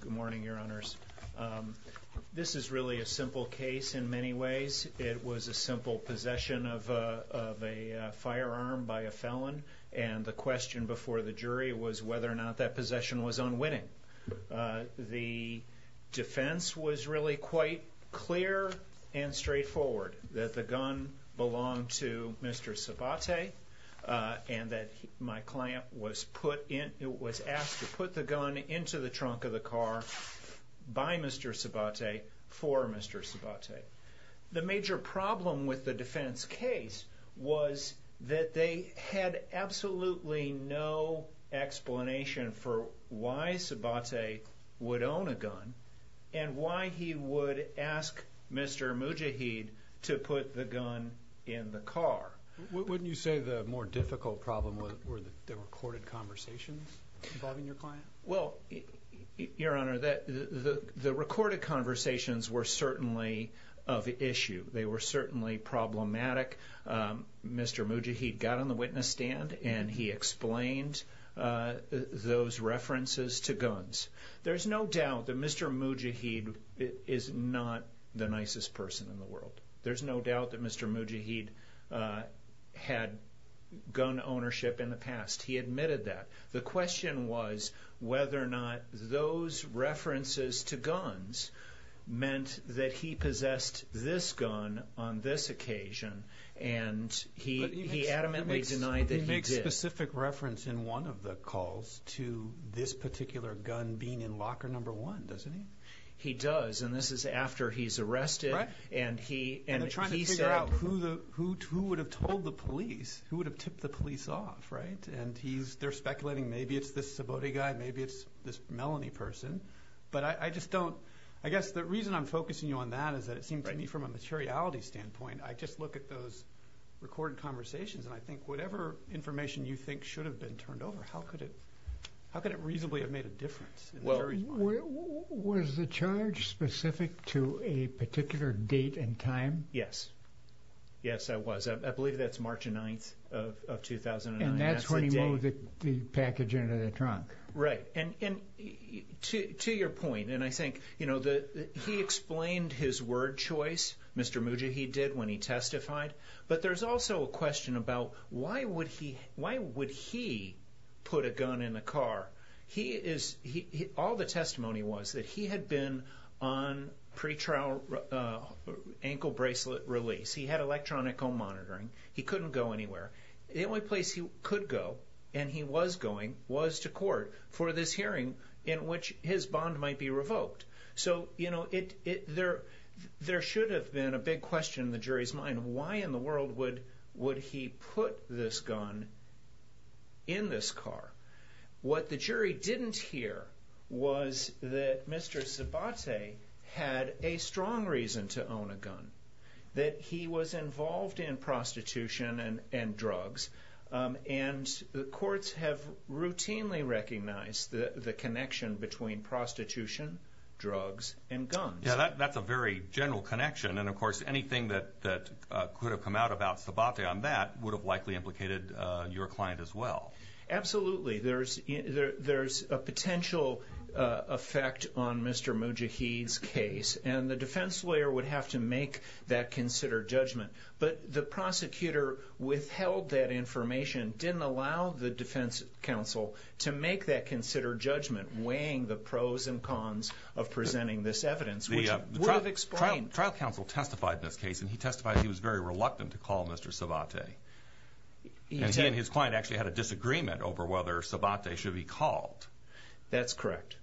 Good morning your honors. This is really a simple case in many ways. It was a simple possession of a firearm by a felon and the question before the jury was whether or not that possession was unwitting. The defense was really quite clear and straightforward that the gun belonged to Mr. Sabate and that my gun into the trunk of the car by Mr. Sabate for Mr. Sabate. The major problem with the defense case was that they had absolutely no explanation for why Sabate would own a gun and why he would ask Mr. Mujahid to put the gun in the car. Wouldn't you say the more difficult problem were the recorded conversations involving your client? Well your honor, the recorded conversations were certainly of issue. They were certainly problematic. Mr. Mujahid got on the witness stand and he explained those references to guns. There's no doubt that Mr. Mujahid is not the nicest person in the world. There's no doubt that Mr. Mujahid had gun ownership in the past. He admitted that. The question was whether or not those references to guns meant that he possessed this gun on this occasion and he adamantly denied that he did. He makes specific reference in one of the calls to this particular gun being in the car. They're trying to figure out who would have told the police, who would have tipped the police off. They're speculating maybe it's this Sabate guy, maybe it's this Melanie person. I guess the reason I'm focusing you on that is that it seemed to me from a materiality standpoint, I just look at those recorded conversations and I think whatever information you think should have been turned over, how could it reasonably have made a Yes. Yes, I was. I believe that's March 9th of 2009. And that's when he loaded the package into the trunk. Right. And to your point, he explained his word choice, Mr. Mujahid did, when he testified. But there's also a question about why would he put a gun in the car? All the testimony was that he had been on pre-trial ankle bracelet release. He had electronic home monitoring. He couldn't go anywhere. The only place he could go, and he was going, was to court for this hearing in which his bond might be revoked. So there should have been a big question in the jury's mind. Why in the world would he put this gun in this car? What the jury didn't hear was that Mr. Sabate had a strong reason to own a gun. That he was involved in prostitution and drugs. And the courts have routinely recognized the connection between prostitution, drugs, and guns. Yeah, that's a very general connection. And of course, anything that could have come out about Sabate on that would have likely implicated your client as well. Absolutely. There's a potential effect on Mr. Mujahid's case. And the defense lawyer would have to make that considered judgment. But the prosecutor withheld that information, didn't allow the defense counsel to make that considered judgment, weighing the pros and cons of presenting this evidence. The trial counsel testified in this case, and he testified he was very reluctant to call Mr. Sabate. And he and his client actually had a disagreement over whether Sabate should be called. That's correct.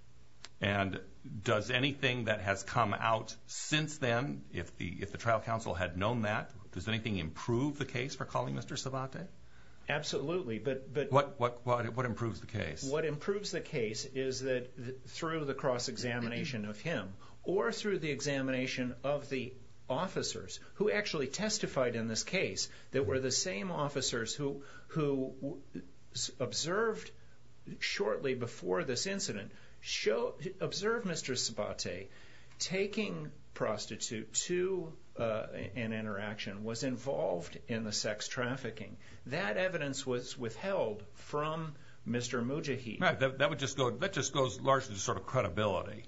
And does anything that has come out since then, if the trial counsel had known that, does anything improve the case for calling Mr. Sabate? Absolutely. What improves the case? What improves the case is that through the cross-examination of him, or through the examination of the officers, who actually testified in this case that were the same officers who observed shortly before this incident, observed Mr. Sabate taking prostitute to an interaction, was involved in the sex trafficking. That evidence was withheld from Mr. Mujahid. That just goes largely to credibility.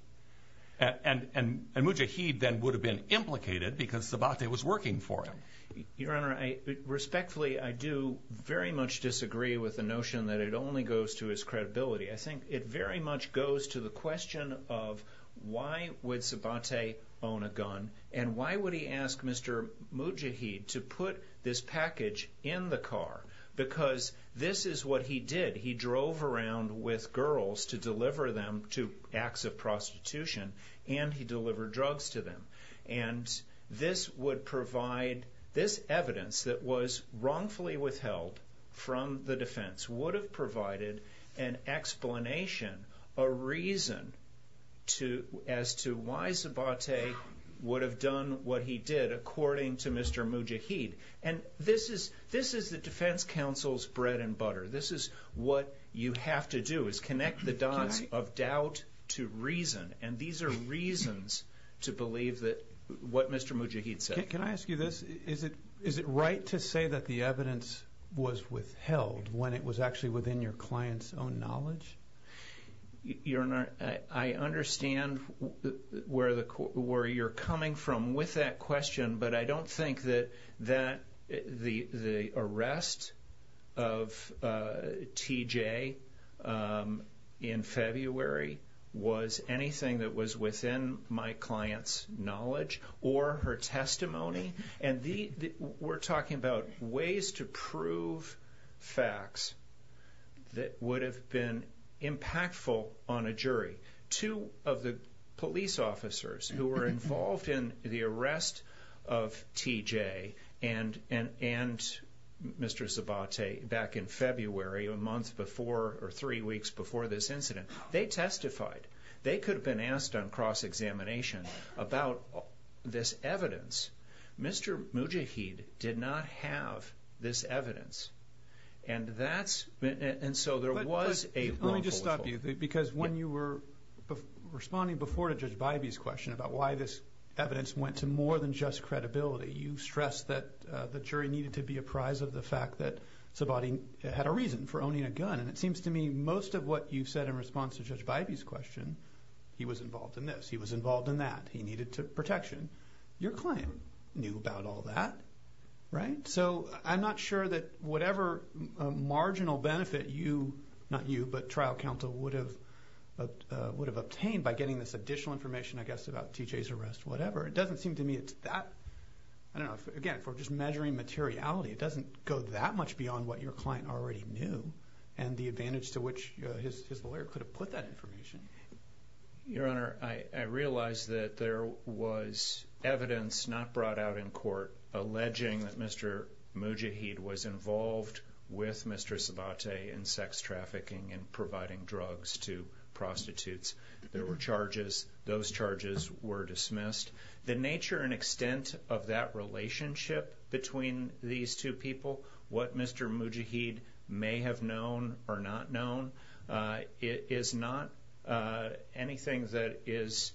And Mujahid then would have been implicated because Sabate was working for him. Your Honor, respectfully, I do very much disagree with the notion that it only goes to his credibility. I think it very much goes to the question of why would Sabate own a gun, and why would he ask Mr. Mujahid to put this package in the car? Because this is what he did. He drove around with girls to deliver them to acts of prostitution, and he delivered drugs to them. And this would provide, this evidence that was wrongfully withheld from the defense, would have provided an explanation, a reason, as to why Sabate would have done what he did according to Mr. Mujahid. And this is the defense counsel's bread and butter. This is what you have to do, is connect the dots of doubt to reason. And these are reasons to believe what Mr. Mujahid said. Can I ask you this? Is it right to say that the evidence was withheld when it was actually within your client's own knowledge? Your Honor, I understand where you're coming from with that question, but I don't think that the arrest of TJ in February was anything that was within my client's knowledge or her testimony. And we're talking about ways to prove facts that would have been impactful on a jury. Two of the police officers who were involved in the arrest of TJ and Mr. Sabate back in February, a month before or three weeks before this incident, they testified. They could have been asked on cross-examination about this evidence. Mr. Mujahid did not have this evidence. And that's, and so there was a wrongful withholding. Because when you were responding before to Judge Bybee's question about why this evidence went to more than just credibility, you stressed that the jury needed to be apprised of the fact that Sabate had a reason for owning a gun. And it seems to me most of what you said in response to Judge Bybee's question, he was involved in this, he was involved in that. He needed protection. Your client knew about all that, right? So I'm not sure that whatever marginal benefit you, not you, but trial counsel, would have obtained by getting this additional information, I guess, about TJ's arrest, whatever. It doesn't seem to me it's that, I don't know, again, for just measuring materiality, it doesn't go that much beyond what your client already knew and the advantage to which his lawyer could have put that information. Your Honor, I realize that there was evidence not brought out in court alleging that Mr. Mujahid was involved with Mr. Sabate in sex trafficking and providing drugs to prostitutes. There were charges. Those charges were dismissed. The nature and extent of that relationship between these two people, what Mr. Mujahid may have known or not known, is not anything that is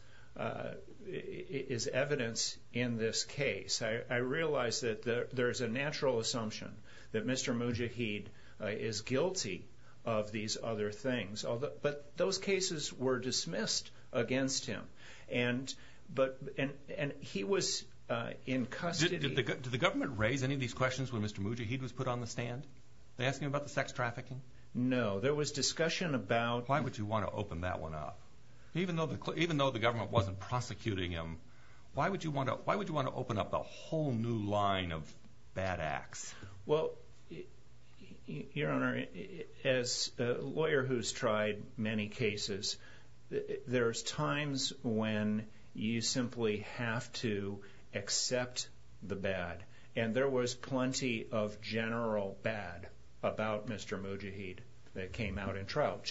evidence in this case. I realize that there's a natural assumption that Mr. Mujahid is guilty of these other things. But those cases were dismissed against him. And he was in custody. Did the government raise any of these questions when Mr. Mujahid was put on the stand? They asked him about the sex trafficking? No. There was discussion about... Why would you want to open that one up? Even though the government wasn't prosecuting him, why would you want to open up a whole new line of bad acts? Well, Your Honor, as a lawyer who's tried many cases, there's times when you simply have to accept the bad. And there was plenty of general bad about Mr. Mujahid that came out in trial.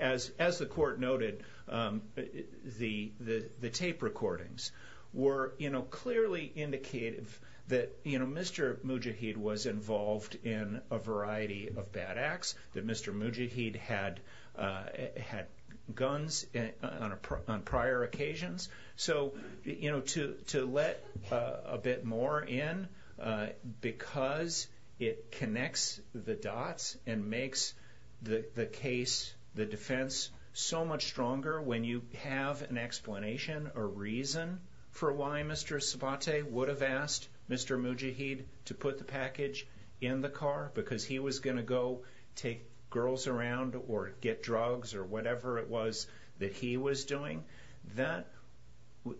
As the Court noted, the tape recordings were clearly indicative that Mr. Mujahid was involved in a variety of bad acts, that Mr. Mujahid had guns on prior occasions. So to let a bit more in, because it connects the dots and makes the case, the defense, so much stronger when you have an explanation or reason for why Mr. Sabate would have asked Mr. Mujahid to put the package in the car because he was going to go take girls around or get drugs or whatever it was that he was doing,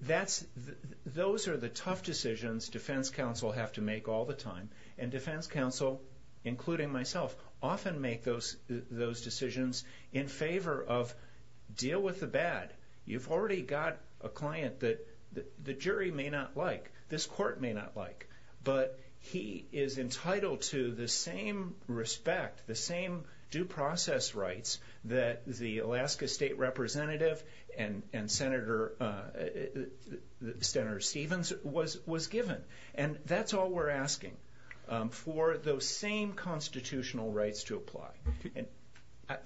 those are the tough decisions defense counsel have to make all the time. And defense counsel, including myself, often make those decisions in favor of deal with the bad. You've already got a client that the jury may not like, this court may not like, but he is entitled to the same respect, the same due process rights that the Alaska State Representative and Senator Stevens was given. And that's all we're asking for those same constitutional rights to apply.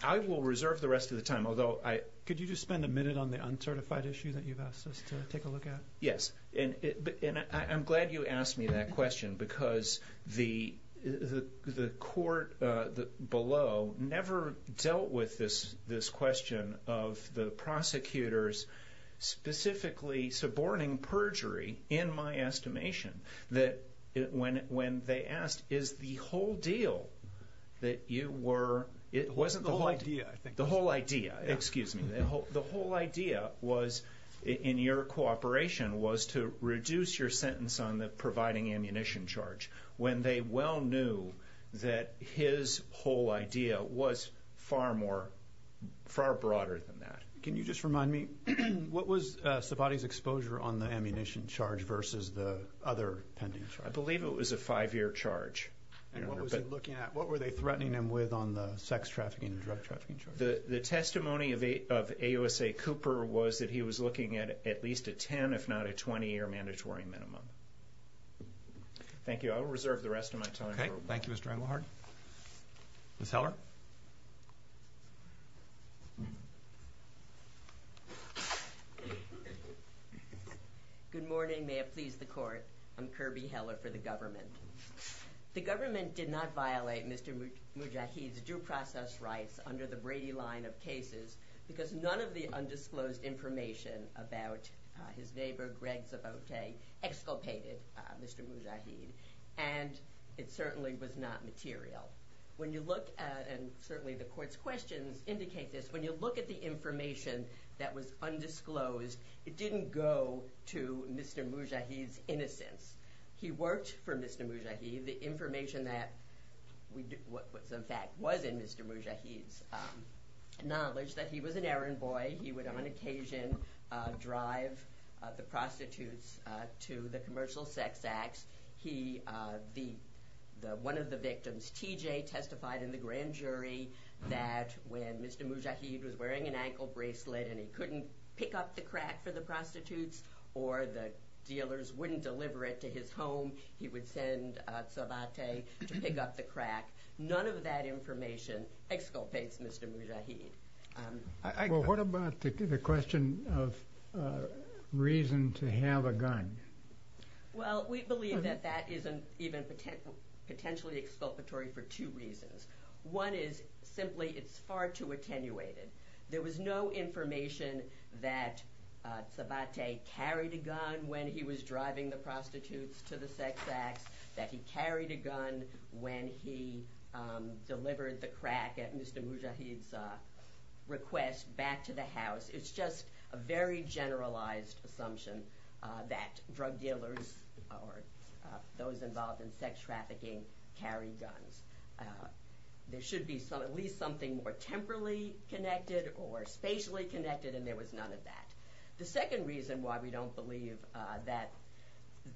I will reserve the rest of the time, although I... Could you just spend a minute on the uncertified issue that you've asked us to take a look at? Yes, and I'm glad you asked me that question, because the court below never dealt with this question of the prosecutors specifically suborning perjury in my estimation. When they asked, is the whole deal that you were... It wasn't the whole idea, I think. The whole idea, excuse me. The whole idea was, in your cooperation, was to reduce your sentence on the providing ammunition charge when they well knew that his whole idea was far broader than that. Can you just remind me, what was Savati's exposure on the ammunition charge versus the other pending charges? I believe it was a five-year charge. And what were they threatening him with on the sex trafficking and drug trafficking charges? The testimony of AUSA Cooper was that he was looking at at least a 10, if not a 20-year mandatory minimum. Thank you. I will reserve the rest of my time. Okay. Thank you, Mr. Engelhardt. Ms. Heller? Good morning. May it please the court. I'm Kirby Heller for the government. The government did not violate Mr. Mujahid's due process rights under the Brady line of cases because none of the undisclosed information about his neighbor, Greg Sabote, exculpated Mr. Mujahid. And it certainly was not material. When you look at, and certainly the court's questions indicate this, when you look at the information that was undisclosed, it didn't go to Mr. Mujahid's innocence. He worked for Mr. Mujahid. The information that was in fact was in Mr. Mujahid's knowledge that he was an errand boy. He would on occasion drive the prostitutes to the commercial sex acts. One of the victims, TJ, testified in the grand jury that when Mr. Mujahid was wearing an ankle bracelet and he couldn't pick up the crack for the prostitutes or the dealers wouldn't deliver it to his home, he would send Sabote to pick up the crack. None of that information exculpates Mr. Mujahid. Well, what about the question of reason to have a gun? Well, we believe that that isn't even potentially exculpatory for two reasons. One is simply it's far too attenuated. There was no information that Sabote carried a gun when he was driving the prostitutes to the sex acts, that he carried a gun when he delivered the crack at Mr. Mujahid's request back to the house. It's just a very generalized assumption that drug dealers or those involved in sex trafficking carry guns. There should be at least something more temporally connected or spatially connected, and there was none of that. The second reason why we don't believe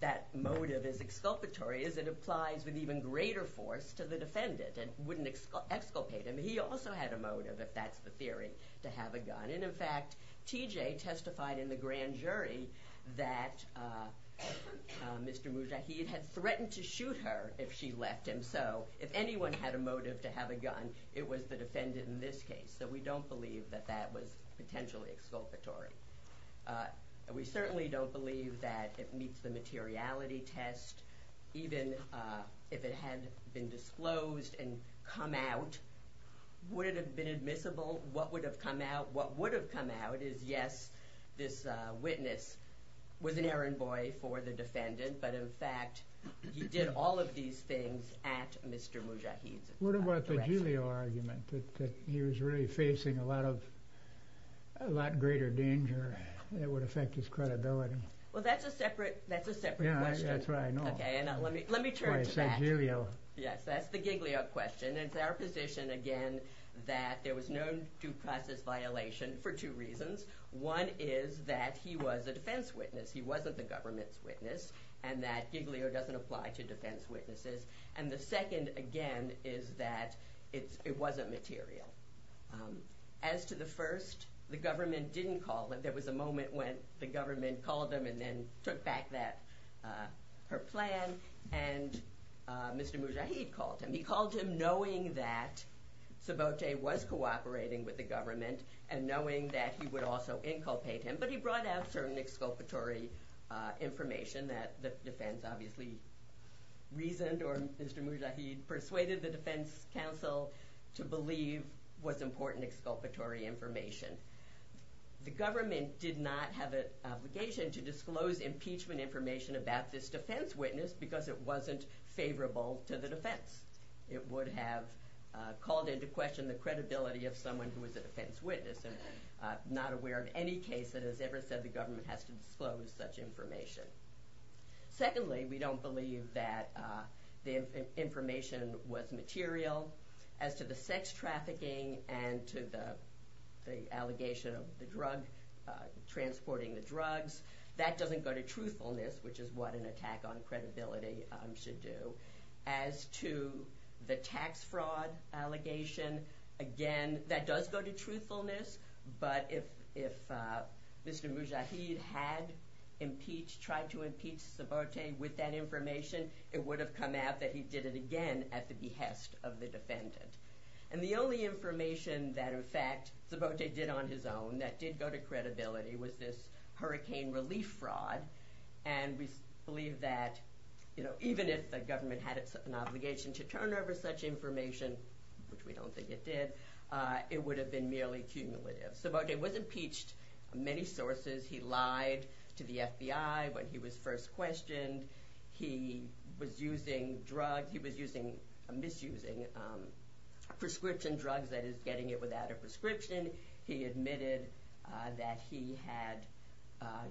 that motive is exculpatory is it applies with even greater force to the defendant and wouldn't exculpate him. He also had a motive, if that's the theory, to have a gun. And in fact, TJ testified in the grand jury that Mr. Mujahid had threatened to shoot her if she left him. Also, if anyone had a motive to have a gun, it was the defendant in this case. So we don't believe that that was potentially exculpatory. We certainly don't believe that it meets the materiality test, even if it had been disclosed and come out. Would it have been admissible? What would have come out? What would have come out is, yes, this witness was an errand boy for the defendant, but in fact, he did all of these things at Mr. Mujahid's address. What about the Giglio argument that he was really facing a lot greater danger that would affect his credibility? Well, that's a separate question. Yeah, that's what I know. Let me turn to that. Yes, that's the Giglio question. It's our position, again, that there was no due process violation for two reasons. One is that he was a defense witness. He wasn't the government's witness, and that Giglio doesn't apply to defense witnesses. And the second, again, is that it wasn't material. As to the first, the government didn't call. There was a moment when the government called him and then took back her plan, and Mr. Mujahid called him. He called him knowing that Sabote was cooperating with the government and knowing that he would also inculpate him, but he brought out certain exculpatory information that the defense obviously reasoned or Mr. Mujahid persuaded the defense counsel to believe was important exculpatory information. The government did not have an obligation to disclose impeachment information about this defense witness because it wasn't favorable to the defense. It would have called into question the credibility of someone who was a defense witness and not aware of any case that has ever said the government has to disclose such information. Secondly, we don't believe that the information was material. As to the sex trafficking and to the allegation of transporting the drugs, that doesn't go to truthfulness, which is what an attack on credibility should do. As to the tax fraud allegation, again, that does go to truthfulness, but if Mr. Mujahid had tried to impeach Sabote with that information, it would have come out that he did it again at the behest of the defendant. And the only information that, in fact, Sabote did on his own that did go to credibility was this hurricane relief fraud, and we believe that even if the government had an obligation to turn over such information, which we don't think it did, it would have been merely cumulative. Sabote was impeached from many sources. He lied to the FBI when he was first questioned. He was using drugs. He was misusing prescription drugs, that is, getting it without a prescription. He admitted that he had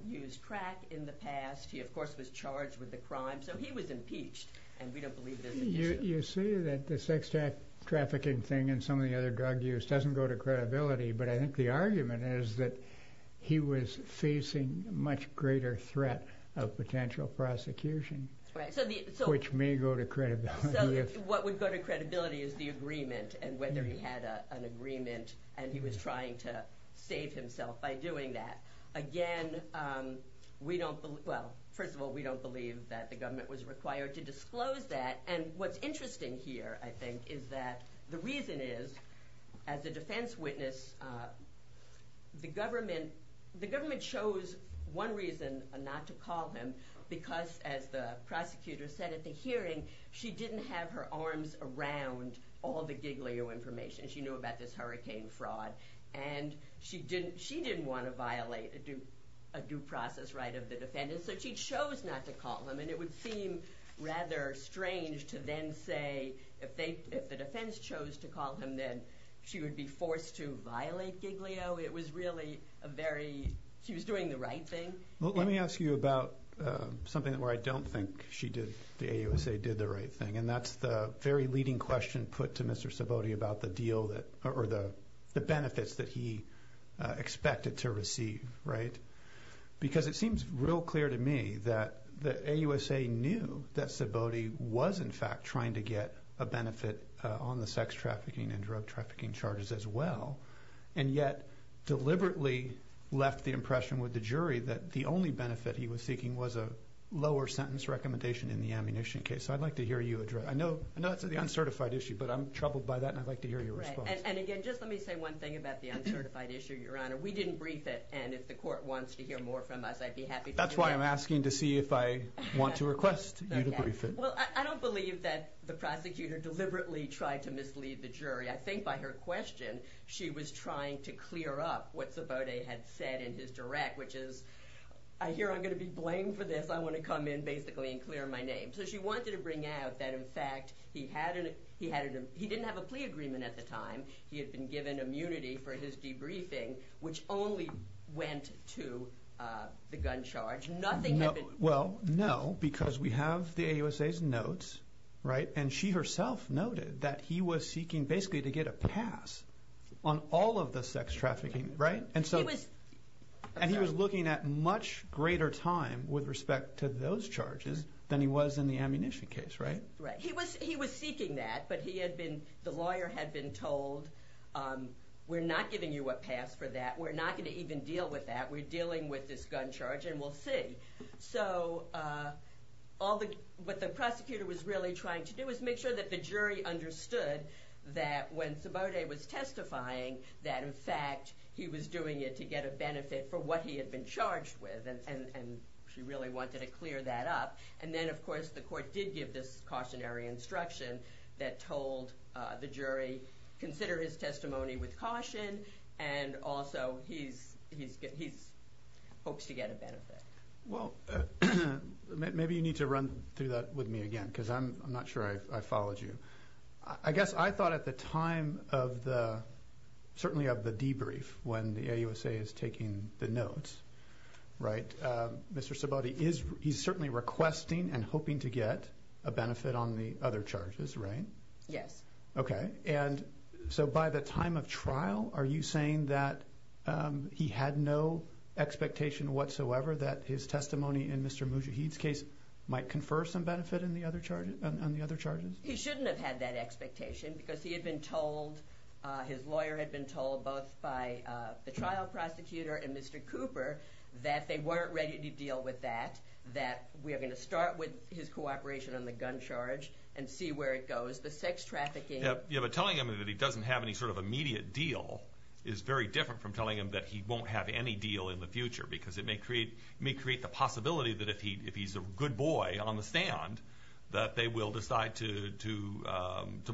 used crack in the past. He, of course, was charged with the crime. So he was impeached, and we don't believe there's an issue. You see that the sex trafficking thing and some of the other drug use doesn't go to credibility, but I think the argument is that he was facing a much greater threat of potential prosecution, which may go to credibility. What would go to credibility is the agreement, and whether he had an agreement, and he was trying to save himself by doing that. Again, we don't believe, well, first of all, we don't believe that the government was required to disclose that, and what's interesting here, I think, is that the reason is, as a defense witness, the government chose one reason not to call him, because as the prosecutor said at the hearing, she didn't have her arms around all the Giglio information. She knew about this hurricane fraud, and she didn't want to violate a due process right of the defendant, so she chose not to call him, and it would seem rather strange to then say, if the defense chose to call him, then she would be forced to violate Giglio. It was really a very, she was doing the right thing. Let me ask you about something where I don't think the AUSA did the right thing, and that's the very leading question put to Mr. Sabote about the benefits that he expected to receive, right? Because it seems real clear to me that the AUSA knew that Sabote was, in fact, trying to get a benefit on the sex trafficking and drug trafficking charges as well, and yet deliberately left the impression with the jury that the only benefit he was seeking was a lower sentence recommendation in the ammunition case. So I'd like to hear you address, I know that's the uncertified issue, but I'm troubled by that, and I'd like to hear your response. And again, just let me say one thing about the uncertified issue, Your Honor. We didn't brief it, and if the court wants to hear more from us, I'd be happy to do that. That's why I'm asking to see if I want to request you to brief it. Well, I don't believe that the prosecutor deliberately tried to mislead the jury. I think by her question, she was trying to clear up what Sabote had said in his direct, which is, I hear I'm going to be blamed for this, I want to come in, basically, and clear my name. So she wanted to bring out that, in fact, he didn't have a plea agreement at the time, he had been given immunity for his debriefing, which only went to the gun charge. Nothing had been... Well, no, because we have the AUSA's notes, right? And she herself noted that he was seeking, basically, to get a pass on all of the sex trafficking, right? And so... He was... And he was looking at much greater time with respect to those charges than he was in the ammunition case, right? Right. He was seeking that, but he had been, the lawyer had been told, we're not giving you a pass for that, we're not going to even deal with that, we're dealing with this gun charge, and we'll see. So, all the... What the prosecutor was really trying to do was make sure that the jury understood that when Sabote was testifying, that, in fact, he was doing it to get a benefit for what he had been charged with, and she really wanted to clear that up. And then, of course, the court did give this cautionary instruction that told the jury, consider his testimony with caution, and also, he hopes to get a benefit. Well, maybe you need to run through that with me again, because I'm not sure I followed you. I guess I thought at the time of the, certainly of the debrief, when the AUSA is taking the notes, right, Mr. Sabote, he's certainly requesting and hoping to get a benefit on the other charges, right? Yes. Okay. And so, by the time of trial, are you saying that he had no expectation whatsoever that his testimony in Mr. Mujahid's case might confer some benefit on the other charges? He shouldn't have had that expectation, because he had been told, his lawyer had been told, both by the trial prosecutor and Mr. Cooper, that they weren't ready to deal with that, that we are going to start with his cooperation on the gun charge and see where it goes. Yeah, but telling him that he doesn't have any sort of immediate deal is very different from telling him that he won't have any deal in the future, because it may create the possibility that if he's a good boy on the stand, that they will decide to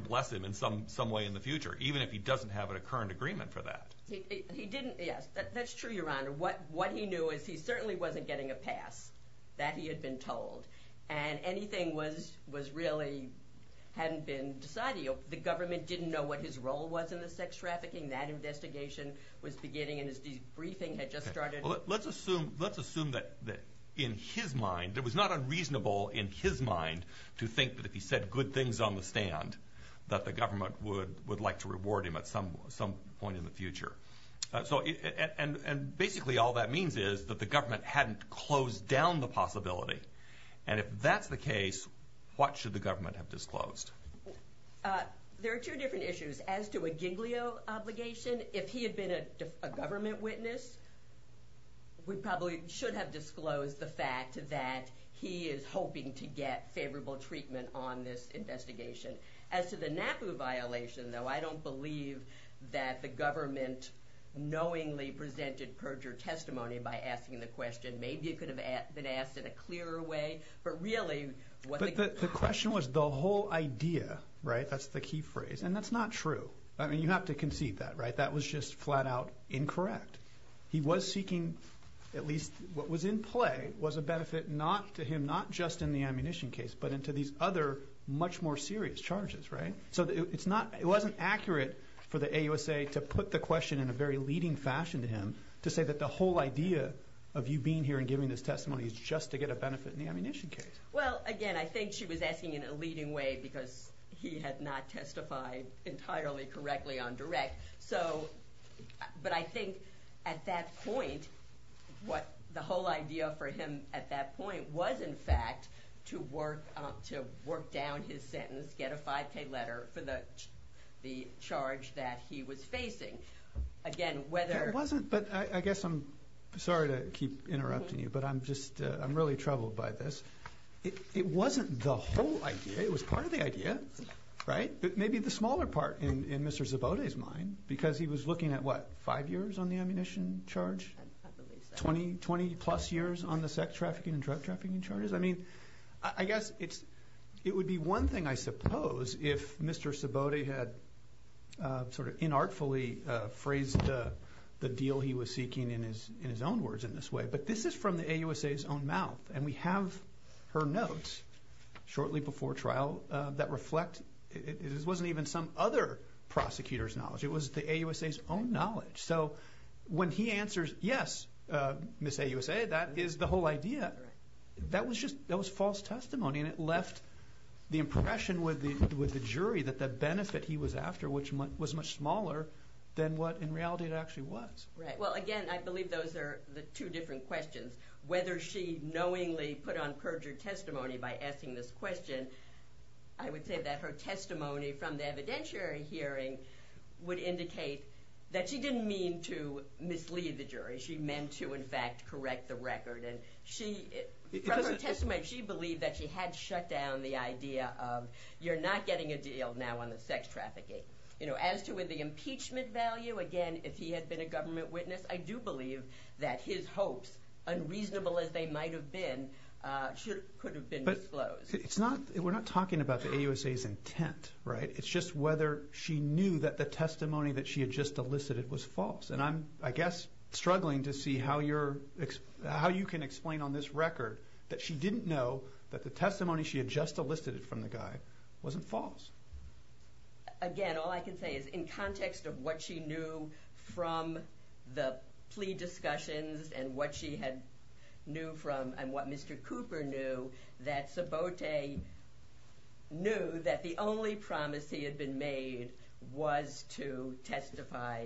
bless him in some way in the future, even if he doesn't have a current agreement for that. He didn't, yes. That's true, Your Honor. What he knew is he certainly wasn't getting a pass, that he had been told, and anything was really hadn't been decided. The government didn't know what his role was in the sex trafficking. That investigation was beginning, and his debriefing had just started. Let's assume that in his mind, it was not unreasonable in his mind to think that if he said good things on the stand, that the government would like to reward him at some point in the future. And basically all that means is that the government hadn't closed down the possibility and if that's the case, what should the government have disclosed? There are two different issues. As to a giglio obligation, if he had been a government witness, we probably should have disclosed the fact that he is hoping to get favorable treatment on this investigation. As to the NAPU violation, though, I don't believe that the government knowingly presented perjure testimony by asking the question. Maybe it could have been asked in a clearer way, but really... But the question was the whole idea, right? That's the key phrase. And that's not true. I mean, you have to concede that, right? That was just flat-out incorrect. He was seeking, at least what was in play, was a benefit not to him, not just in the ammunition case, but into these other much more serious charges, right? So it wasn't accurate for the AUSA to put the question in a very leading fashion to him to say that the whole idea of you being here and giving this testimony is just to get a benefit in the ammunition case. Well, again, I think she was asking in a leading way because he had not testified entirely correctly on direct. So... But I think at that point, the whole idea for him at that point was, in fact, to work down his sentence, get a 5K letter for the charge that he was facing. Again, whether... It wasn't, but I guess I'm... Sorry to keep interrupting you, but I'm really troubled by this. It wasn't the whole idea. It was part of the idea, right? Maybe the smaller part in Mr. Zabote's mind, because he was looking at, what, five years on the ammunition charge? I believe so. 20-plus years on the sex trafficking and drug trafficking charges? I mean, I guess it would be one thing, I suppose, if Mr. Zabote had sort of inartfully phrased the deal he was seeking in his own words in this way. But this is from the AUSA's own mouth, and we have her notes shortly before trial that reflect... It wasn't even some other prosecutor's knowledge. It was the AUSA's own knowledge. So when he answers, yes, Ms. AUSA, that is the whole idea, that was false testimony, and it left the impression with the jury that the benefit he was after, which was much smaller, than what, in reality, it actually was. Well, again, I believe those are the two different questions. Whether she knowingly put on perjured testimony by asking this question, I would say that her testimony from the evidentiary hearing would indicate that she didn't mean to mislead the jury. She meant to, in fact, correct the record. From her testimony, she believed that she had shut down the idea of, you're not getting a deal now on the sex trafficking. As to the impeachment value, again, if he had been a government witness, I do believe that his hopes, unreasonable as they might have been, could have been disclosed. But we're not talking about the AUSA's intent, right? It's just whether she knew that the testimony that she had just elicited was false. And I'm, I guess, struggling to see how you can explain on this record that she didn't know that the testimony she had just elicited from the guy wasn't false. Again, all I can say is in context of what she knew from the plea discussions and what she had knew from, and what Mr. Cooper knew, that Sabote knew that the only promise he had been made was to testify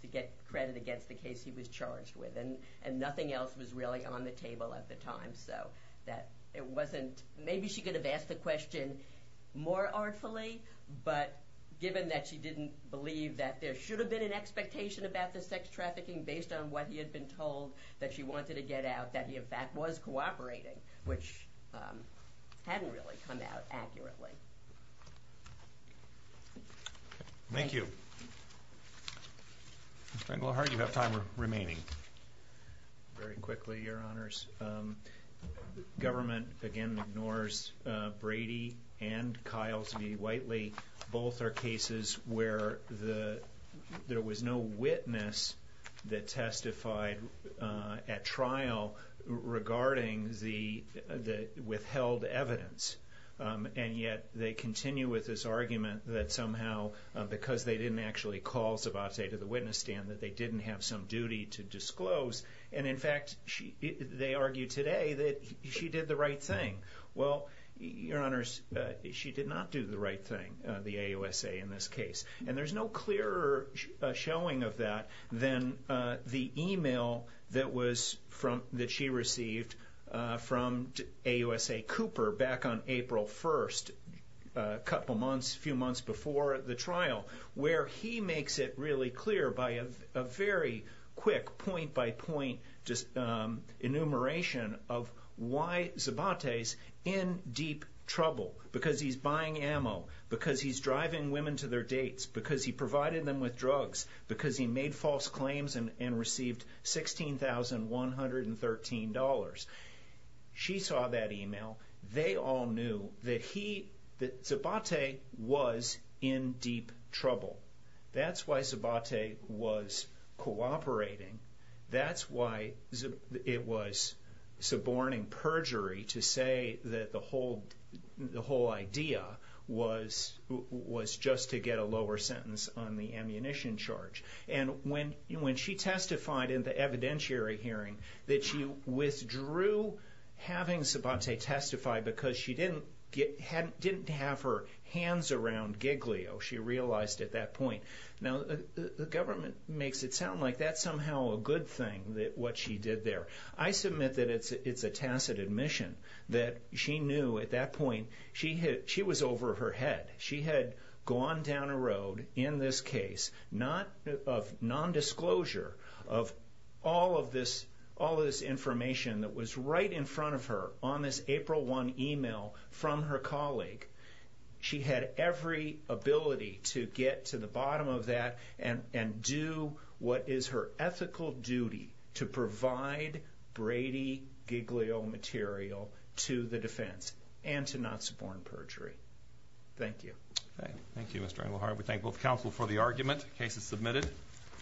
to get credit against the case he was charged with. And nothing else was really on the table at the time, so that it wasn't, maybe she could have asked the question more artfully, but given that she didn't believe that there should have been an expectation about the sex trafficking based on what he had been told that she wanted to get out, that he in fact was cooperating, which hadn't really come out accurately. Thank you. Mr. Engelhardt, you have time remaining. Very quickly, Your Honors. Government again ignores Brady and Kiles v. Whiteley. Both are cases where there was no witness that testified at trial regarding the withheld evidence. And yet, they continue with this argument that somehow because they didn't actually call Sabote to the witness stand, that they didn't have some duty to disclose. And in fact, they argue today that she did the right thing. Well, Your Honors, she did not do the right thing, the AUSA in this case. And there's no clearer showing of that than the email that was that she received from AUSA Cooper back on April 1st, a couple months, a few months before the trial, where he makes it really clear by a very quick point-by-point enumeration of why Sabote is in deep trouble. Because he's buying ammo. Because he's driving women to their dates. Because he provided them with drugs. Because he made false claims and received $16,113. She saw that email. They all knew that he, that Sabote was in deep trouble. That's why Sabote was cooperating. That's why it was suborning perjury to say that the whole idea was just to get a lower sentence on the ammunition charge. And when she testified in the evidentiary hearing, that she withdrew having Sabote testify because she didn't have her hands around Giglio, she realized at that point. Now, the government makes it sound like that's somehow a good thing what she did there. I submit that it's a tacit admission that she knew at that point she was over her head. She had gone down a road in this case of non-disclosure of all of this information that was right in front of her on this April 1 email from her colleague. She had every ability to get to the bottom of that and do what is her ethical duty to provide Brady Giglio material to the defense and to not suborn perjury. Thank you. We thank both counsel for the argument. The case is submitted.